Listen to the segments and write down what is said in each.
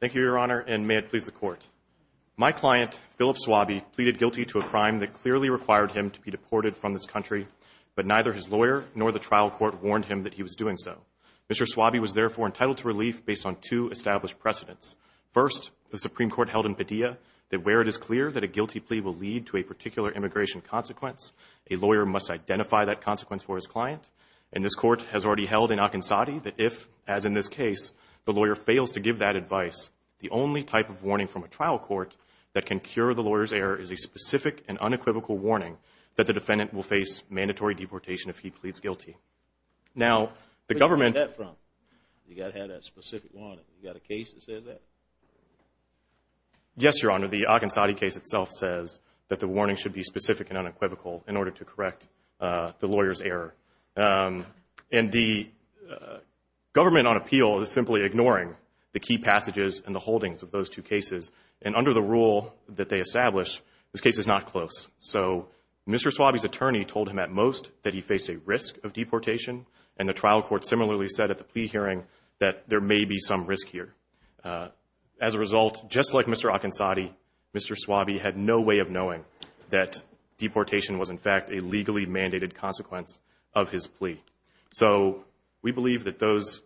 Thank you, Your Honor, and may it please the Court. My client, Philip Swaby, pleaded guilty to a crime that clearly required him to be deported from this country, but neither his lawyer nor the trial court warned him that he was doing so. Mr. Swaby was therefore entitled to relief based on two established precedents. First, the Supreme Court held in Padilla that where it is clear that a guilty plea will lead to a particular immigration consequence, a lawyer must identify that consequence for his client. And this Court has already held in Akinsati that if, as in this case, the lawyer fails to give that advice, the only type of warning from a trial court that can cure the lawyer's error is a specific and unequivocal warning that the defendant will face mandatory deportation if he pleads guilty. Now the government- Where did you get that from? You've got to have that specific warning. You've got a case that says that? Philip Swaby Yes, Your Honor. The Akinsati case itself says that the warning should be specific and unequivocal in order to correct the lawyer's error. And the government on appeal is simply ignoring the key passages and the holdings of those two cases. And under the rule that they establish, this case is not close. So Mr. Swaby's attorney told him at most that he faced a risk of deportation, and the trial court similarly said at the plea hearing that there may be some risk here. As a result, just like Mr. Akinsati, Mr. Swaby had no way of knowing that deportation was in fact a plea. So we believe that those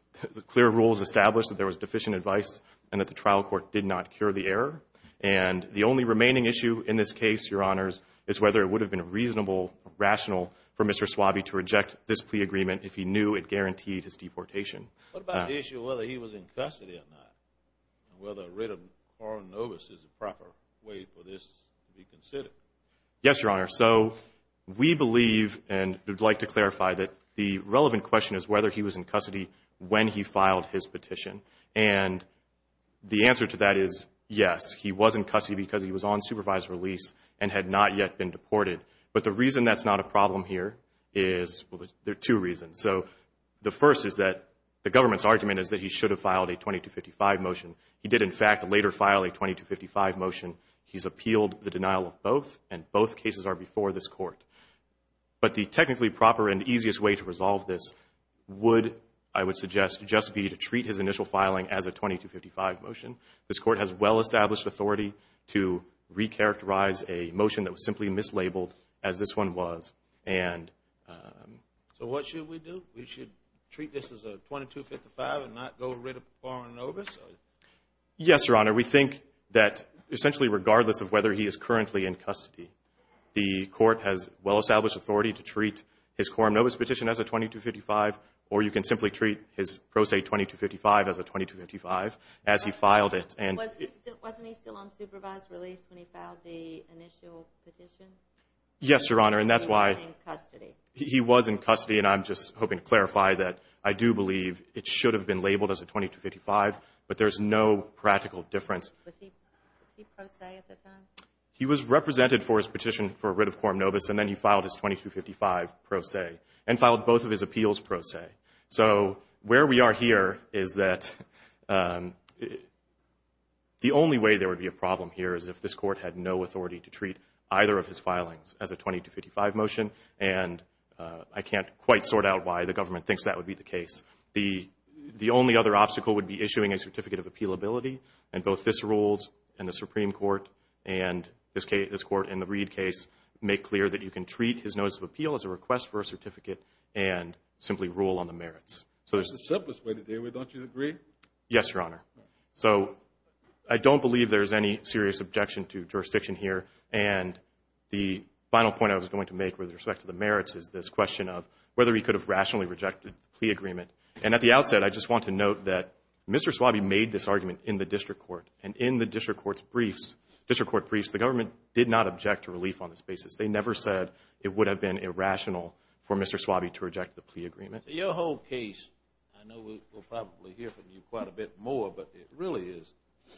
clear rules established that there was deficient advice and that the trial court did not cure the error. And the only remaining issue in this case, Your Honors, is whether it would have been reasonable, rational for Mr. Swaby to reject this plea agreement if he knew it guaranteed his deportation. What about the issue of whether he was in custody or not, and whether a writ of moral novice is a proper way for this to be considered? Yes, Your Honor. So we believe and would like to clarify that the relevant question is whether he was in custody when he filed his petition. And the answer to that is yes, he was in custody because he was on supervised release and had not yet been deported. But the reason that's not a problem here is, well, there are two reasons. So the first is that the government's argument is that he should have filed a 2255 motion. He did in fact later file a 2255 motion. He's appealed the denial of both, and both cases are before this court. But the technically proper and easiest way to resolve this would, I would suggest, just be to treat his initial filing as a 2255 motion. This court has well-established authority to recharacterize a motion that was simply mislabeled as this one was. So what should we do? We should treat this as a 2255 and not go writ of moral novice? Yes, Your Honor. We think that essentially regardless of whether he is currently in custody, the court has well-established authority to treat his moral novice petition as a 2255, or you can simply treat his pro se 2255 as a 2255 as he filed it. Wasn't he still on supervised release when he filed the initial petition? Yes, Your Honor. And that's why he was in custody. And I'm just hoping to clarify that I do believe it should have been labeled as a 2255, but there's no practical difference. Was he pro se at the time? He was represented for his petition for writ of moral novice, and then he filed his 2255 pro se and filed both of his appeals pro se. So where we are here is that the only way there would be a problem here is if this court had no authority to treat either of his filings as a 2255 motion. And I can't quite sort out why the government thinks that would be the case. The only other obstacle would be issuing a certificate of appealability, and both this rules and the Supreme Court and this court in the Reed case make clear that you can treat his notice of appeal as a request for a certificate and simply rule on the merits. That's the simplest way to do it, don't you agree? Yes, Your Honor. So I don't believe there's any serious objection to jurisdiction here. And the final point I was going to make with respect to the merits is this question of whether he could have rationally rejected the plea agreement. And at the outset, I just want to note that Mr. Swabee made this argument in the district court, and in the district court's briefs, district court briefs, the government did not object to relief on this basis. They never said it would have been irrational for Mr. Swabee to reject the plea agreement. Your whole case, I know we'll probably hear from you quite a bit more, but it really is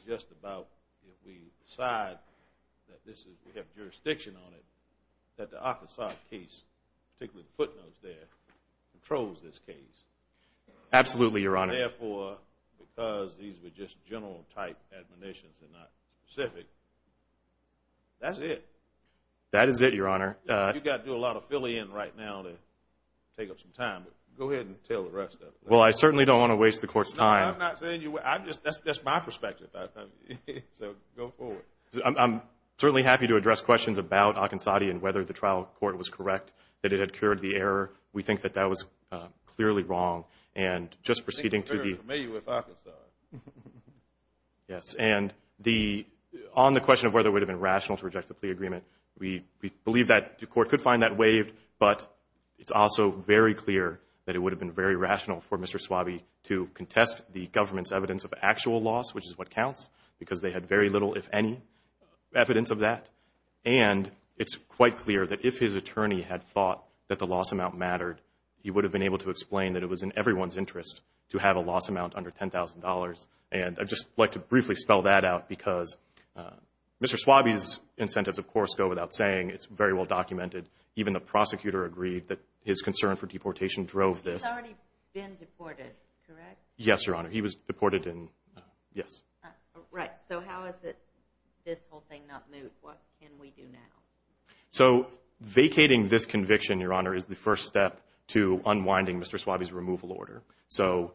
just about if we decide that this is, we have jurisdiction on it, that the Arkansas case, particularly the footnotes there, controls this case. Absolutely, Your Honor. And therefore, because these were just general type admonitions and not specific, that's it. That is it, Your Honor. You've got to do a lot of filling in right now to take up some time, but go ahead and tell the rest of it. Well, I certainly don't want to waste the court's time. No, I'm not saying you, I'm just, that's my perspective. So go forward. I'm certainly happy to address questions about Arkansas and whether the trial court was correct. That it had cured the error. We think that that was clearly wrong. And just proceeding to the I think you're very familiar with Arkansas. Yes, and on the question of whether it would have been rational to reject the plea agreement, we believe that the court could find that waived, but it's also very clear that it would have been very rational for Mr. Swabee to contest the government's evidence of actual loss, which is what counts, because they had very little, if any, evidence of that. And it's quite clear that if his attorney had thought that the loss amount mattered, he would have been able to explain that it was in everyone's interest to have a loss amount under $10,000. And I'd just like to briefly spell that out because Mr. Swabee's incentives, of course, go without saying. It's very well documented. Even the prosecutor agreed that his concern for deportation drove this. He's already been deported, correct? Yes, Your Honor. He was deported in, yes. Right. So how is it this whole thing not moot? What can we do now? So vacating this conviction, Your Honor, is the first step to unwinding Mr. Swabee's removal order. So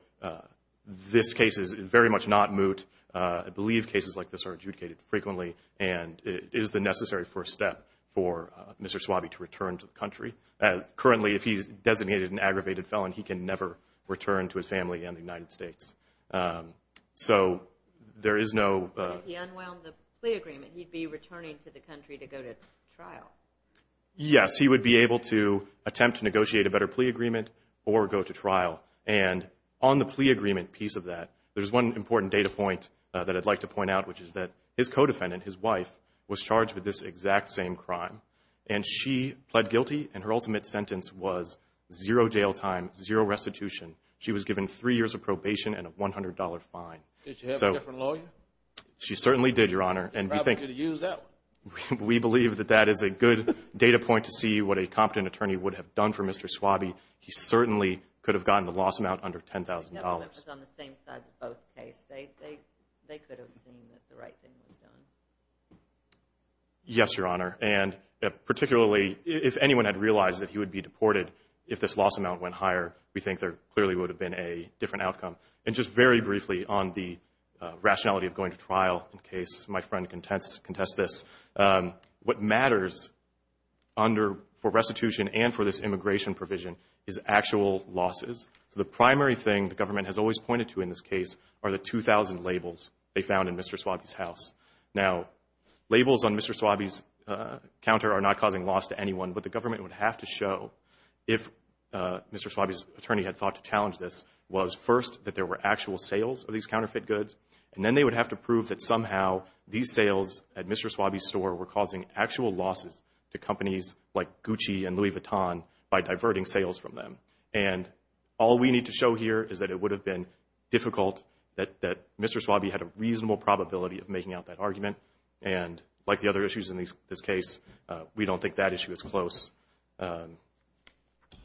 this case is very much not moot. I believe cases like this are adjudicated frequently, and it is the necessary first step for Mr. Swabee to return to the country. Currently, if he's designated an aggravated felon, he can never return to his family in the United States. So there is no... If he unwound the plea agreement, he'd be returning to the country to go to trial. Yes. He would be able to attempt to negotiate a better plea agreement or go to trial. And on the plea agreement piece of that, there's one important data point that I'd like to point out, which is that his co-defendant, his wife, was charged with this exact same crime. And she pled guilty, and her ultimate sentence was zero jail time, zero restitution. She was given three years of probation and a $100 fine. Did she have a different lawyer? She certainly did, Your Honor. And we think... She probably could have used that one. We believe that that is a good data point to see what a competent attorney would have done for Mr. Swabee. He certainly could have gotten the loss amount under $10,000. The government was on the same side in both cases. They could have seen that the right thing was done. Yes, Your Honor. And particularly, if anyone had realized that he would be deported if this loss amount went higher, we think there clearly would have been a different outcome. And just very briefly on the rationality of going to trial, in case my friend contests this, what matters for restitution and for this immigration provision is actual losses. The primary thing the government has always pointed to in this case are the 2,000 labels they found in Mr. Swabee's house. Now, labels on Mr. Swabee's counter are not causing loss to anyone, but the government would have to show if Mr. Swabee's attorney had thought to challenge this was first that there were actual sales of these counterfeit goods, and then they would have to prove that somehow these sales at Mr. Swabee's store were causing actual losses to companies like Gucci and Louis Vuitton by diverting sales from them. And all we need to show here is that it would have been difficult that Mr. Swabee had a reasonable probability of making out that argument. And like the other issues in this case, we don't think that issue is close.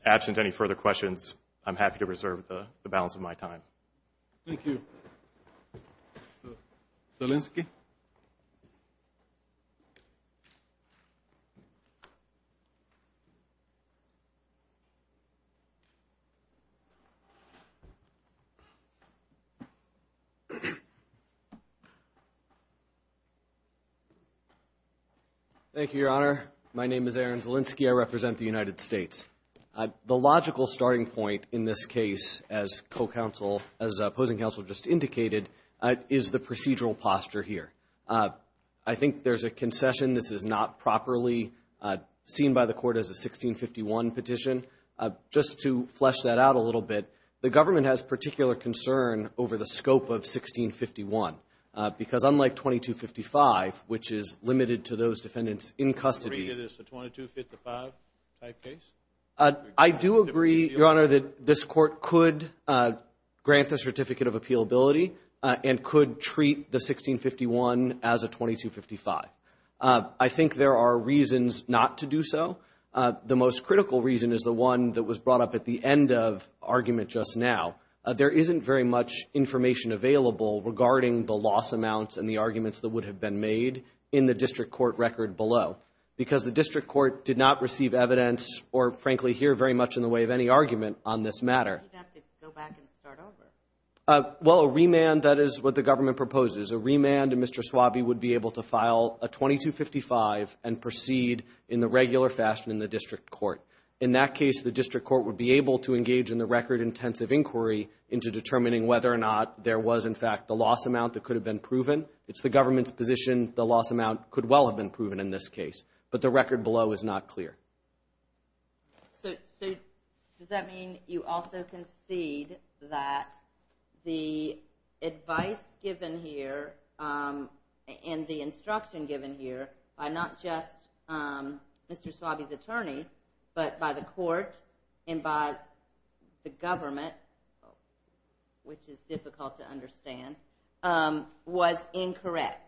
Absent any further questions, I'm happy to reserve the balance of my time. Mr. Zielinski? Thank you, Your Honor. My name is Aaron Zielinski. I represent the United States. The logical starting point in this case, as opposing counsel just indicated, is the procedural posture here. I think there's a concession this is not properly seen by the court as a 1651 petition. Just to flesh that out a little bit, the government has particular concern over the scope of 1651 because unlike 2255, which is limited to those defendants in custody Do you agree that it's a 2255 type case? I do agree, Your Honor, that this court could grant the certificate of appealability and could treat the 1651 as a 2255. I think there are reasons not to do so. The most critical reason is the one that was brought up at the end of the argument just now. There isn't very much information available regarding the loss amounts and the arguments that would have been made in the district court record below because the district court did not receive evidence or, frankly, hear very much in the way of any argument on this matter. You'd have to go back and start over. Well, a remand, that is what the government proposes. A remand, Mr. Swabie would be able to file a 2255 and proceed in the regular fashion in the district court. In that case, the district court would be able to engage in the record-intensive inquiry into determining whether or not there was, in fact, the loss amount that could have been proven. It's the government's position the loss amount could well have been proven in this case. But the record below is not clear. So, does that mean you also concede that the advice given here and the instruction given here by not just Mr. Swabie's attorney but by the court and by the government, which is difficult to understand, was incorrect?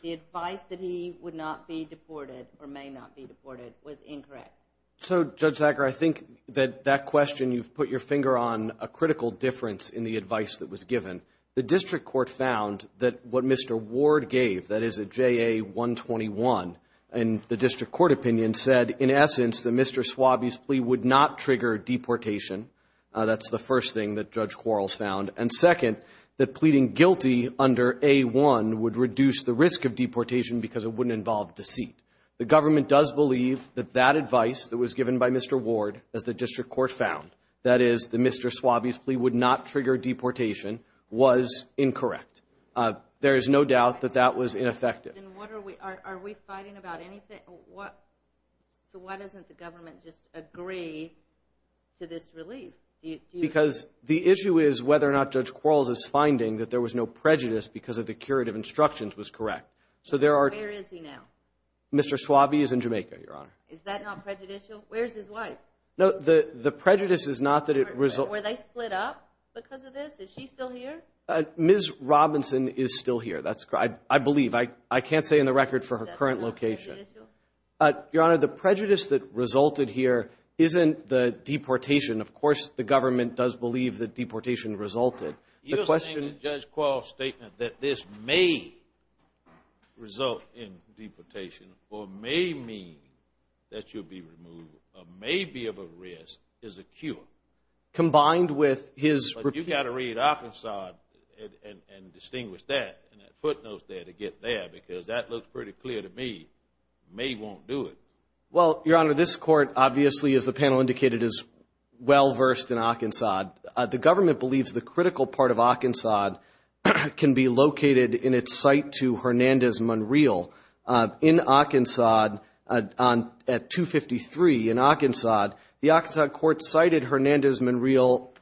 The advice that he would not be deported or may not be deported was incorrect? So, Judge Zachar, I think that that question, you've put your finger on a critical difference in the advice that was given. The district court found that what Mr. Ward gave, that is a JA-121, and the district court opinion said, in essence, that Mr. Swabie's plea would not trigger deportation. That's the first thing that Judge Quarles found. And second, that pleading guilty under A-1 would reduce the risk of deportation because it wouldn't involve deceit. The government does believe that that advice that was given by Mr. Ward, as the district court found, that is, that Mr. Swabie's plea would not trigger deportation, was incorrect. There is no doubt that that was ineffective. Then are we fighting about anything? So why doesn't the government just agree to this relief? Because the issue is whether or not Judge Quarles' finding that there was no prejudice because of the curative instructions was correct. Where is he now? Mr. Swabie is in Jamaica, Your Honor. Is that not prejudicial? Where is his wife? The prejudice is not that it resulted... Were they split up because of this? Is she still here? Ms. Robinson is still here, I believe. I can't say in the record for her current location. Your Honor, the prejudice that resulted here isn't the deportation. Of course, the government does believe that deportation resulted. You're saying that Judge Quarles' statement that this may result in deportation or may mean that you'll be removed or may be of a risk is a cure. Combined with his... You've got to read Arkansas and distinguish that and that footnote there to get there because that looks pretty clear to me. May won't do it. Well, Your Honor, this court obviously, as the panel indicated, is well-versed in Arkansas. The government believes the critical part of Arkansas can be located in its site to Hernandez-Monreal. In Arkansas, at 253 in Arkansas, the Arkansas court cited Hernandez-Monreal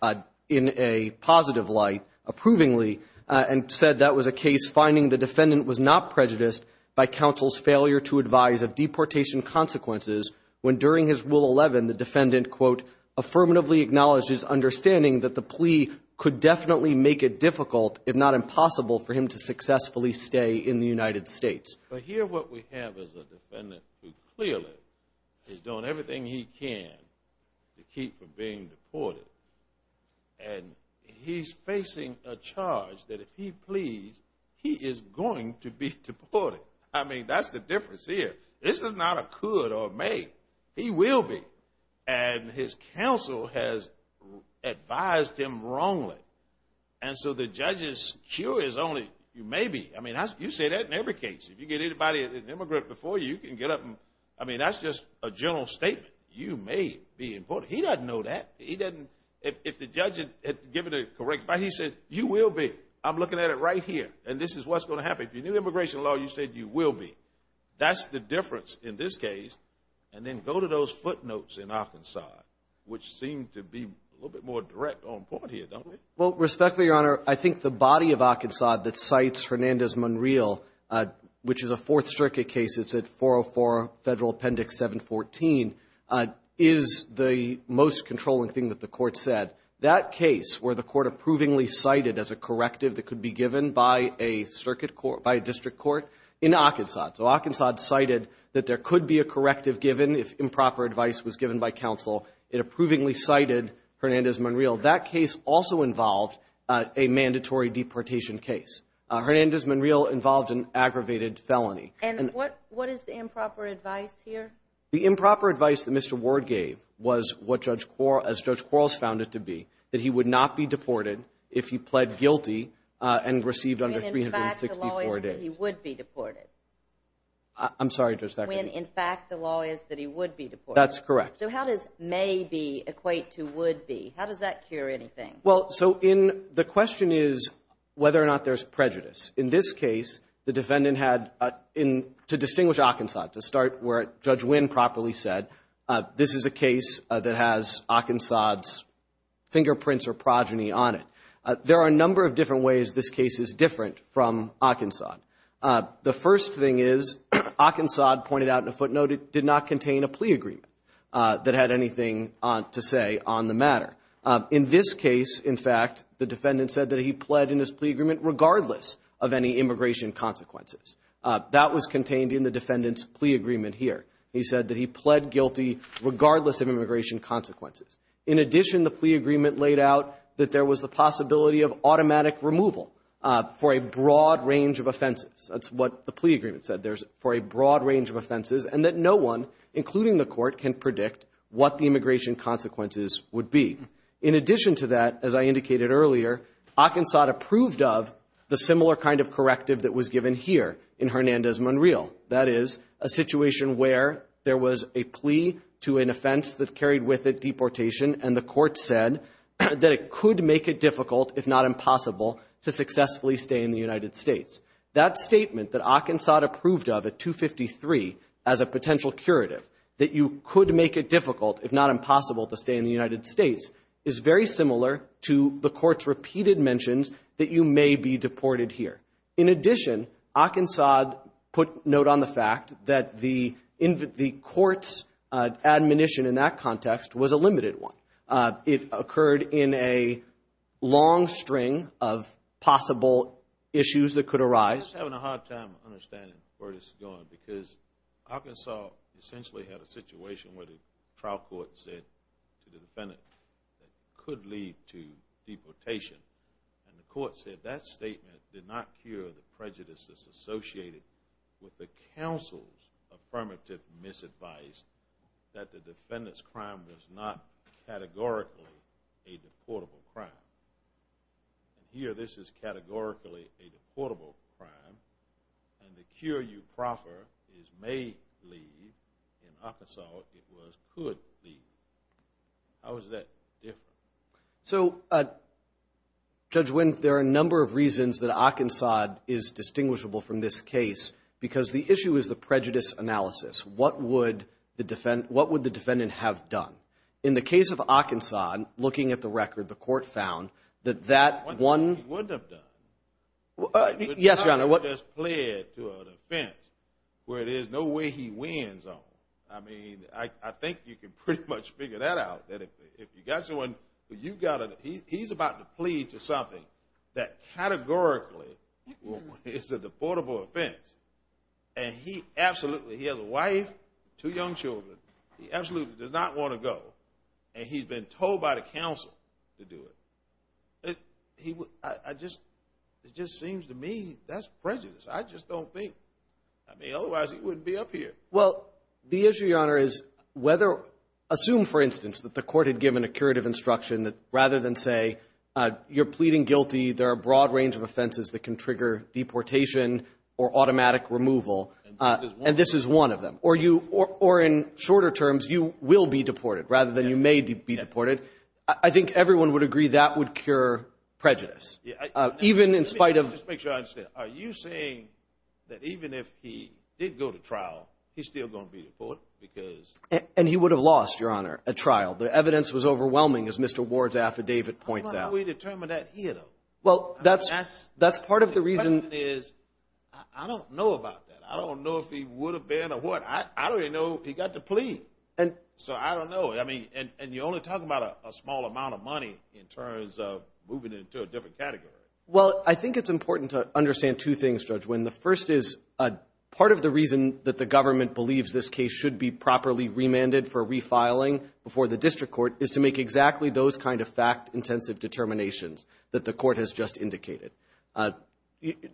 in a positive light, approvingly, and said that was a case finding the defendant was not prejudiced by counsel's failure to advise of deportation consequences when during his Rule 11, the defendant, quote, affirmatively acknowledges understanding that the plea could definitely make it difficult, if not impossible, for him to successfully stay in the United States. But here what we have is a defendant who clearly is doing everything he can to keep from being deported. And he's facing a charge that if he pleads, he is going to be deported. I mean, that's the difference here. This is not a could or may. He will be. And his counsel has advised him wrongly. And so the judge's cure is only maybe. I mean, you say that in every case. If you get anybody, an immigrant, before you, you can get up and, I mean, that's just a general statement. You may be deported. He doesn't know that. He doesn't. If the judge had given a correct, he said, you will be. I'm looking at it right here. And this is what's going to happen. If you knew immigration law, you said you will be. That's the difference in this case. And then go to those footnotes in Arkansas, which seem to be a little bit more direct on point here, don't they? Well, respectfully, Your Honor, I think the body of Arkansas that cites Hernandez-Monreal, which is a Fourth Circuit case. It's at 404 Federal Appendix 714, is the most controlling thing that the court said. That case where the court approvingly cited as a corrective that could be given by a district court in Arkansas. So Arkansas cited that there could be a corrective given if improper advice was given by counsel. It approvingly cited Hernandez-Monreal. That case also involved a mandatory deportation case. Hernandez-Monreal involved an aggravated felony. And what is the improper advice here? The improper advice that Mr. Ward gave was what Judge Quarles found it to be, that he would not be deported if he pled guilty and received under 364 days. When, in fact, the law is that he would be deported. I'm sorry, Judge Thackeray. When, in fact, the law is that he would be deported. That's correct. So how does may be equate to would be? How does that cure anything? Well, so the question is whether or not there's prejudice. In this case, the defendant had, to distinguish Arkansas, to start where Judge Wynn properly said, this is a case that has Arkansas's fingerprints or progeny on it. There are a number of different ways this case is different from Arkansas. The first thing is, Arkansas pointed out in a footnote it did not contain a plea agreement that had anything to say on the matter. In this case, in fact, the defendant said that he pled in his plea agreement regardless of any immigration consequences. That was contained in the defendant's plea agreement here. He said that he pled guilty regardless of immigration consequences. In addition, the plea agreement laid out that there was the possibility of automatic removal for a broad range of offenses. That's what the plea agreement said. There's for a broad range of offenses and that no one, including the court, can predict what the immigration consequences would be. In addition to that, as I indicated earlier, Arkansas approved of the similar kind of corrective that was given here in Hernandez-Monreal. That is, a situation where there was a plea to an offense that carried with it deportation and the court said that it could make it difficult, if not impossible, to successfully stay in the United States. That statement that Arkansas approved of at 253 as a potential curative, that you could make it difficult, if not impossible, to stay in the United States, is very similar to the court's repeated mentions that you may be deported here. In addition, Arkansas put note on the fact that the court's admonition in that context was a limited one. It occurred in a long string of possible issues that could arise. I'm having a hard time understanding where this is going, because Arkansas essentially had a situation where the trial court said to the defendant that it could lead to deportation and the court said that statement did not cure the prejudices associated with the counsel's affirmative misadvice that the defendant's crime was not categorically a deportable crime. Here, this is categorically a deportable crime and the cure you proffer is may leave. In Arkansas, it was could leave. How is that different? So, Judge Wendt, there are a number of reasons that Arkansas is distinguishable from this case because the issue is the prejudice analysis. What would the defendant have done? In the case of Arkansas, looking at the record, the court found that that one... One thing he wouldn't have done. Yes, Your Honor. He wouldn't have just pled to an offense where there's no way he wins on. I mean, I think you can pretty much figure that out, that if you got someone, he's about to plead to something that categorically is a deportable offense and he absolutely, he has a wife, two young children, he absolutely does not want to go and he's been told by the counsel to do it. He would... It just seems to me that's prejudice. I just don't think... I mean, otherwise he wouldn't be up here. Well, the issue, Your Honor, is whether... Assume, for instance, that the court had given a curative instruction that rather than say you're pleading guilty, there are a broad range of offenses that can trigger deportation or automatic removal and this is one of them. Or in shorter terms, you will be deported rather than you may be deported. I think everyone would agree that would cure prejudice. Even in spite of... Let me just make sure I understand. Are you saying that even if he did go to trial, he's still going to be deported because... And he would have lost, Your Honor, a trial. The evidence was overwhelming as Mr. Ward's affidavit points out. How do we determine that here, though? Well, that's part of the reason... The question is, I don't know about that. I don't know if he would have been or what. I don't even know if he got to plead. So I don't know. And you're only talking about a small amount of money in terms of moving into a different category. Well, I think it's important to understand two things, Judge Wynn. The first is part of the reason that the government believes this case should be properly remanded for refiling before the district court is to make exactly those kind of fact-intensive determinations that the court has just indicated.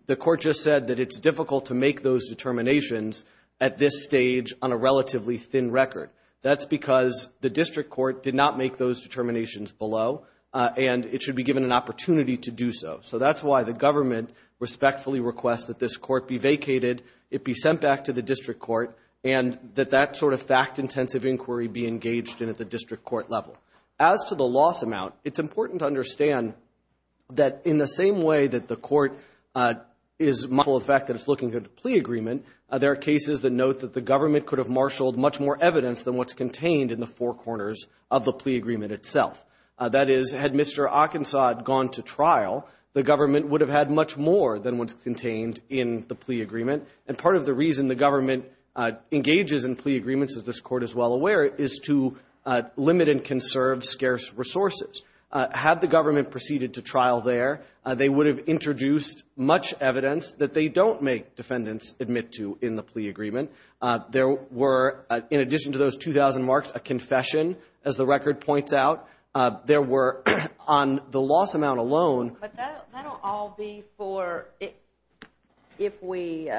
The court just said that it's difficult to make those determinations at this stage on a relatively thin record. That's because the district court did not make those determinations below and it should be given an opportunity to do so. So that's why the government respectfully requests that this court be vacated, it be sent back to the district court, and that that sort of fact-intensive inquiry be engaged in at the district court level. As to the loss amount, it's important to understand that in the same way that the court is mindful of the fact that it's looking for a plea agreement, there are cases that note that the government could have marshaled much more evidence than what's contained in the four corners of the plea agreement itself. That is, had Mr. Ockensaude gone to trial, the government would have had much more than what's contained in the plea agreement. And part of the reason the government engages in plea agreements, as this court is well aware, is to limit and conserve scarce resources. Had the government proceeded to trial there, they would have introduced much evidence that they don't make defendants admit to in the plea agreement. There were, in addition to those 2,000 marks, a confession, as the record points out. There were, on the loss amount alone... But that'll all be for if we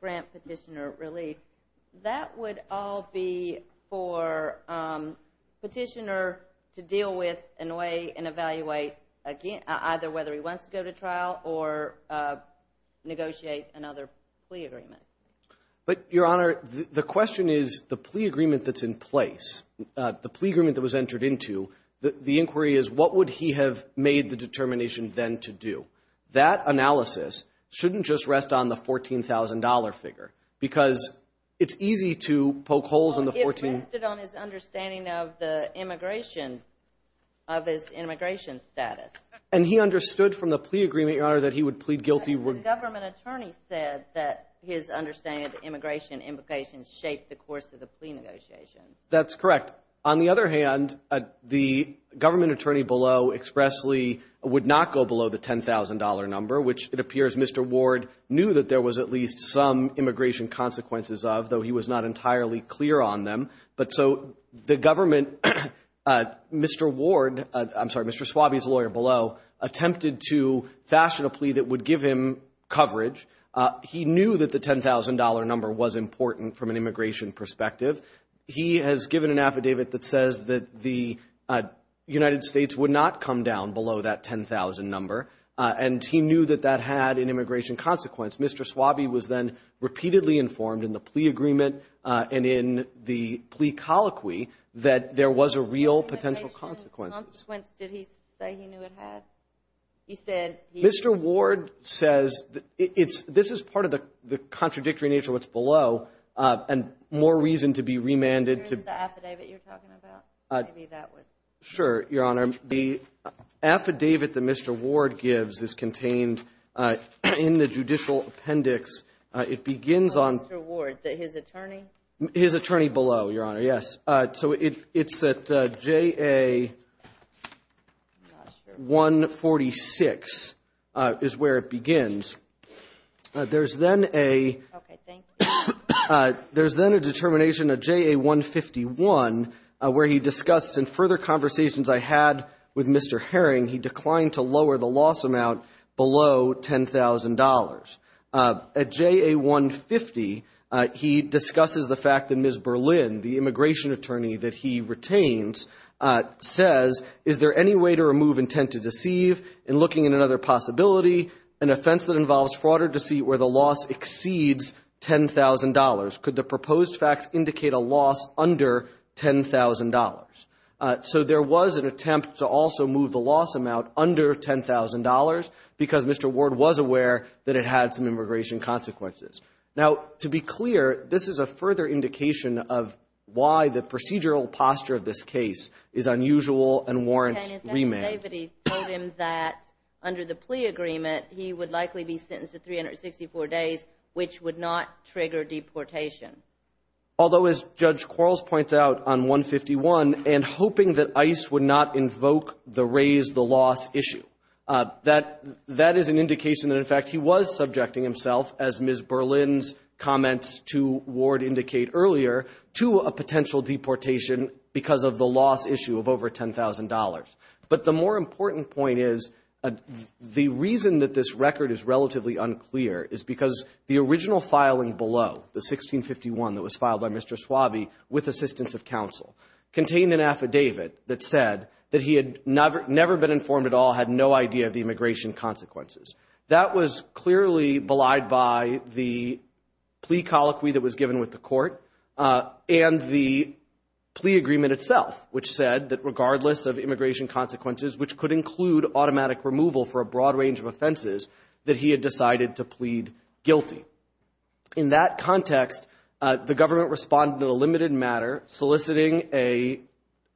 grant petitioner relief. That would all be for petitioner to deal with and weigh and evaluate, either whether he wants to go to trial or negotiate another plea agreement. But, Your Honor, the question is, the plea agreement that's in place, the plea agreement that was entered into, the inquiry is, what would he have made the determination then to do? That analysis shouldn't just rest on the $14,000 figure, because it's easy to poke holes in the 14... It rested on his understanding of the immigration, of his immigration status. And he understood from the plea agreement, Your Honor, that he would plead guilty... The government attorney said that his understanding of the immigration implications shaped the course of the plea negotiations. That's correct. On the other hand, the government attorney below expressly would not go below the $10,000 number, which it appears Mr. Ward knew that there was at least some immigration consequences of, though he was not entirely clear on them. But, so, the government... Mr. Ward... I'm sorry, Mr. Suave's lawyer below attempted to fashion a plea that would give him coverage. He knew that the $10,000 number was important from an immigration perspective. He has given an affidavit that says that the United States would not come down below that $10,000 number. And he knew that that had an immigration consequence. Mr. Suave was then repeatedly informed in the plea agreement and in the plea colloquy that there was a real potential consequence. Did he say he knew it had? He said... Mr. Ward says... This is part of the contradictory nature of what's below, and more reason to be remanded to... Here's the affidavit you're talking about. Maybe that would... Sure, Your Honor. The affidavit that Mr. Ward gives is contained in the judicial appendix. It begins on... Mr. Ward, his attorney? His attorney below, Your Honor, yes. So it's at J.A. 146 is where it begins. There's then a... Okay, thank you. There's then a determination at J.A. 151 where he discusses, in further conversations I had with Mr. Herring, he declined to lower the loss amount below $10,000. At J.A. 150, he discusses the fact that Ms. Berlin, the immigration attorney that he retains, says... Is there any way to remove intent to deceive? And looking at another possibility, an offense that involves fraud or deceit where the loss exceeds $10,000. Could the proposed facts indicate a loss under $10,000? So there was an attempt to also move the loss amount under $10,000 because Mr. Ward was aware that it had some immigration consequences. Now, to be clear, this is a further indication of why the procedural posture of this case is unusual and warrants remand. Okay, and is that because David, he told him that under the plea agreement, he would likely be sentenced to 364 days, which would not trigger deportation? Although, as Judge Quarles points out on 151, and hoping that ICE would not invoke the raise-the-loss issue, that is an indication that, in fact, he was subjecting himself, as Ms. Berlin's comments to Ward indicate earlier, to a potential deportation because of the loss issue of over $10,000. But the more important point is, the reason that this record is relatively unclear is because the original filing below, the 1651 that was filed by Mr. Suave, with assistance of counsel, contained an affidavit that said that he had never been informed at all, had no idea of the immigration consequences. That was clearly belied by the plea colloquy that was given with the court and the plea agreement itself, which said that regardless of immigration consequences, which could include automatic removal for a broad range of offenses, that he had decided to plead guilty. In that context, the government responded in a limited matter, soliciting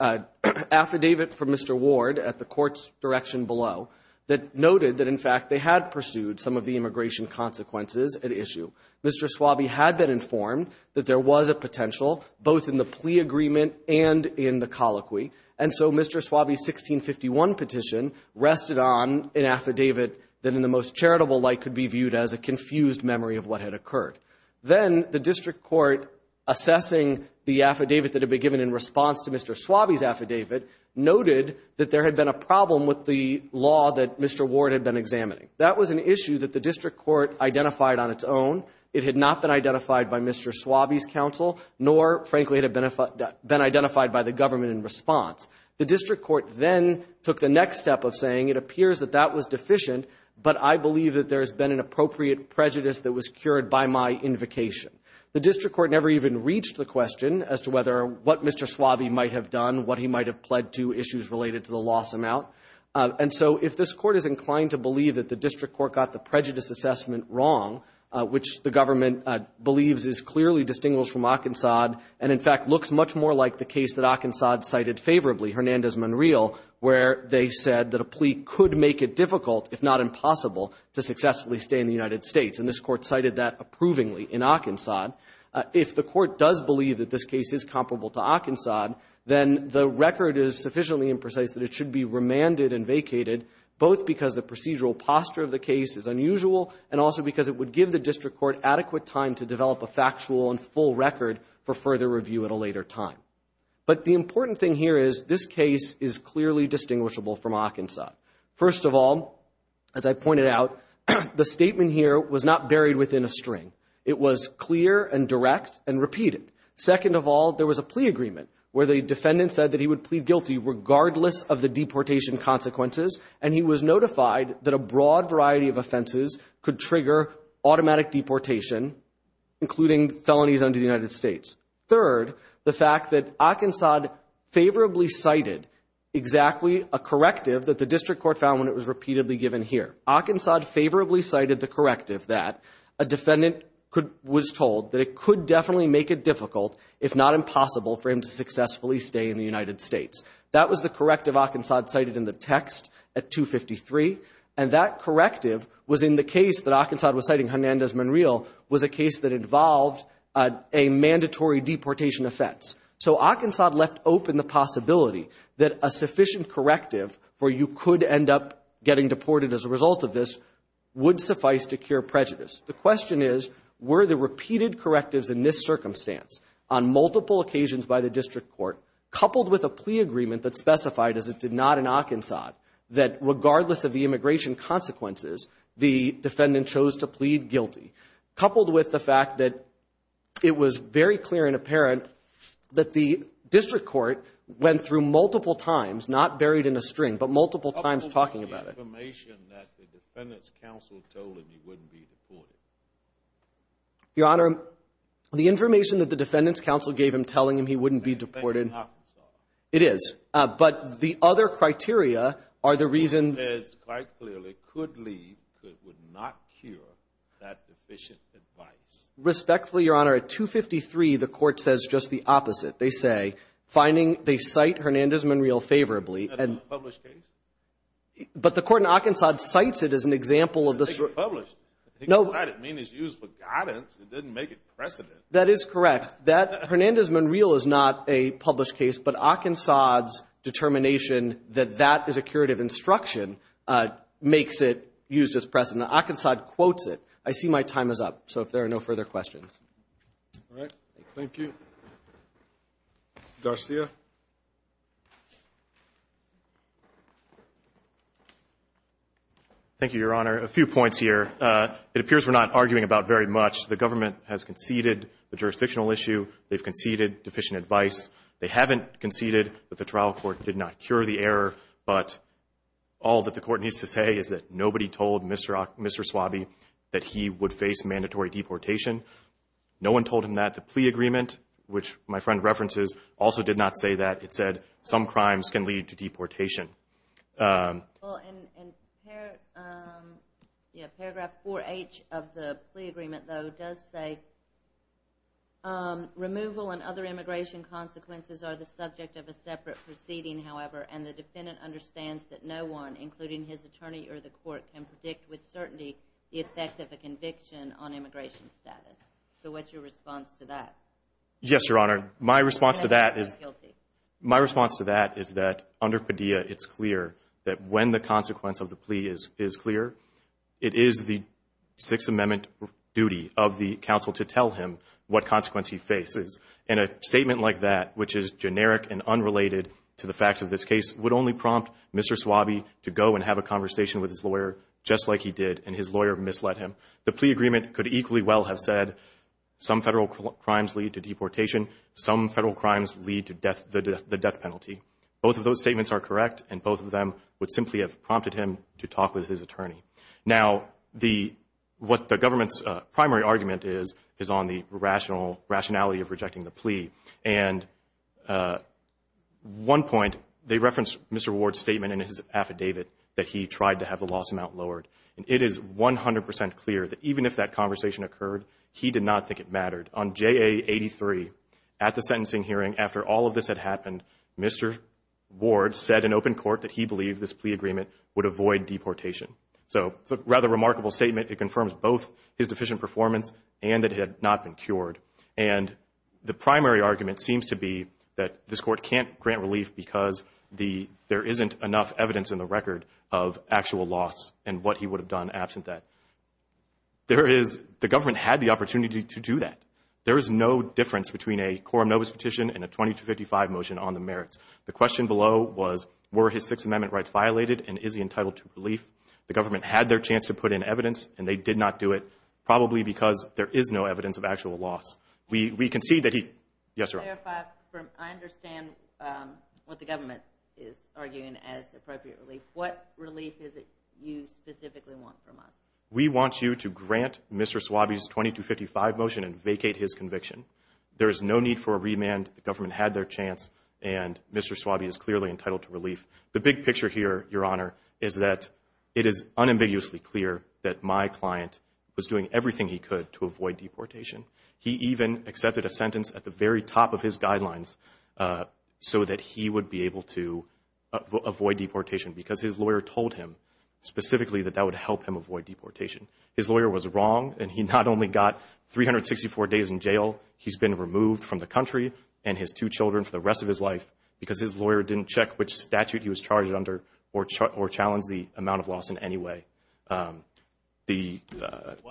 an affidavit from Mr. Ward at the court's direction below that noted that, in fact, they had pursued some of the immigration consequences at issue. Mr. Suave had been informed that there was a potential, both in the plea agreement and in the colloquy, and so Mr. Suave's 1651 petition rested on an affidavit that in the most charitable light could be viewed as a confused memory of what had occurred. Then the district court, assessing the affidavit that had been given in response to Mr. Suave's affidavit, noted that there had been a problem with the law that Mr. Ward had been examining. That was an issue that the district court identified on its own. It had not been identified by Mr. Suave's counsel, nor, frankly, had it been identified by the government in response. The district court then took the next step of saying, it appears that that was deficient, but I believe that there has been an appropriate prejudice that was cured by my invocation. The district court never even reached the question as to whether what Mr. Suave might have done, what he might have pled to, issues related to the loss amount. And so if this court is inclined to believe that the district court got the prejudice assessment wrong, which the government believes is clearly distinguished from Arkansas, and in fact looks much more like the case that Arkansas cited favorably, Hernandez-Monreal, where they said that a plea could make it difficult, if not impossible, to successfully stay in the United States. And this court cited that approvingly in Arkansas. If the court does believe that this case is comparable to Arkansas, then the record is sufficiently imprecise that it should be remanded and vacated, both because the procedural posture of the case is unusual, and also because it would give the district court adequate time to develop a factual and full record for further review at a later time. But the important thing here is this case is clearly distinguishable from Arkansas. First of all, as I pointed out, the statement here was not buried within a string. It was clear and direct and repeated. Second of all, there was a plea agreement where the defendant said that he would plead guilty regardless of the deportation consequences, and he was notified that a broad variety of offenses could trigger automatic deportation, including felonies under the United States. Third, the fact that Arkansas favorably cited exactly a corrective that the district court found when it was repeatedly given here. Arkansas favorably cited the corrective that a defendant was told that it could definitely make it difficult, if not impossible, for him to successfully stay in the United States. That was the corrective Arkansas cited in the text at 253, and that corrective was in the case that Arkansas was citing, Hernandez-Monreal, was a case that involved a mandatory deportation offense. So Arkansas left open the possibility that a sufficient corrective where you could end up getting deported as a result of this would suffice to cure prejudice. The question is were the repeated correctives in this circumstance, on multiple occasions by the district court, coupled with a plea agreement that specified, as it did not in Arkansas, that regardless of the immigration consequences, the defendant chose to plead guilty, coupled with the fact that it was very clear and apparent that the district court went through multiple times, not buried in a string, but multiple times talking about it. The information that the defendant's counsel told him he wouldn't be deported. Your Honor, the information that the defendant's counsel gave him telling him he wouldn't be deported It is. But the other criteria are the reason It says quite clearly, could leave but would not cure that deficient advice. Respectfully, Your Honor, at 253 the court says just the opposite. They say finding, they cite Hernandez-Monreal favorably, and It's not a published case? But the court in Arkansas cites it as an example of the district court. I think it's published. It's used for guidance. It doesn't make it precedent. That is correct. Hernandez-Monreal is not a published case, but Arkansas' determination that that is a curative instruction makes it used as precedent. Arkansas quotes it. I see my time is up. So if there are no further questions. All right. Thank you. Garcia? Thank you, Your Honor. A few points here. It appears we're not arguing about very much. The government has conceded the jurisdictional issue. They've conceded deficient advice. They haven't conceded that the trial court did not cure the error, but all that the court needs to say is that nobody told Mr. Swabee that he would face mandatory deportation. No one told him that. The plea agreement, which my friend references, also did not say that. It said that some crimes can lead to deportation. Paragraph 4H of the plea agreement, though, does say removal and other immigration consequences are the subject of a separate proceeding, however, and the defendant understands that no one, including his attorney or the court, can predict with certainty the effect of a conviction on immigration status. So what's your response to that? Yes, Your Honor. My response to that is that under Padilla, it's clear that when the consequence of the plea is clear, it is the Sixth Amendment duty of the counsel to tell him what consequence he faces. And a statement like that, which is generic and unrelated to the facts of this case, would only prompt Mr. Swabee to go and have a conversation with his lawyer, just like he did, and his lawyer misled him. The plea agreement could equally well have said some federal crimes lead to deportation, some federal crimes lead to the death penalty. Both of those statements are correct, and both of them would simply have prompted him to talk with his attorney. Now, what the government's primary argument is on the rationality of rejecting the plea. At one point, they referenced Mr. Ward's statement in his affidavit that he tried to have the loss amount lowered. It is 100 percent clear that even if that conversation occurred, he did not think it mattered. On J.A. 83, at the sentencing hearing, after all of this had happened, Mr. Ward said in open court that he believed this plea agreement would avoid deportation. So, it's a rather remarkable statement. It confirms both his deficient performance and that it had not been cured. And the primary argument seems to be that this court can't grant relief because there isn't enough evidence in the record of actual loss and what he would have done absent that. The government had the opportunity to do that. There is no difference between a Quorum Novus petition and a 2255 motion on the merits. The question below was were his Sixth Amendment rights violated and is he entitled to relief? The government had their chance to put in evidence and they did not do it probably because there is no evidence of actual loss. We can see that he... Yes, Your Honor. I understand what the government is arguing as appropriate relief. What relief is it that you specifically want from us? We want you to grant Mr. Swabee's 2255 motion and vacate his conviction. There is no need for a remand. The government had their chance and Mr. Swabee is clearly entitled to relief. The big picture here, Your Honor, is that it is unambiguously clear that my client was doing everything he could to avoid deportation. He even accepted a sentence at the very top of his guidelines so that he would be able to avoid deportation because his lawyer told him specifically that that would help him avoid deportation. His lawyer was wrong and he not only got 364 days in jail, he's been removed from the country and his two children for the rest of his life because his lawyer didn't check which statute he was charged under or challenge the amount of loss in any way. The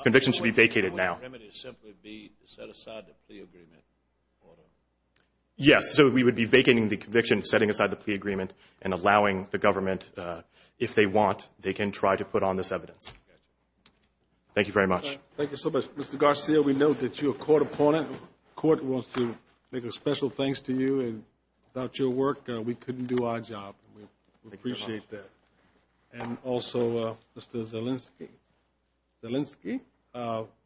conviction should be vacated now. Why wouldn't the only remedy simply be to set aside the plea agreement? Yes, so we would be vacating the conviction, setting aside the plea agreement and allowing the government if they want, they can try to put on this evidence. Thank you very much. Thank you so much. Mr. Garcia, we know that you're a court opponent. The court wants to make a special thanks to you and without your work we couldn't do our job. We appreciate that. And also, Mr. Zelinsky Zelinsky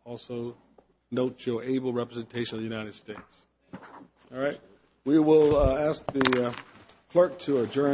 also notes your able representation of the United States. Alright, we will ask the clerk to adjourn.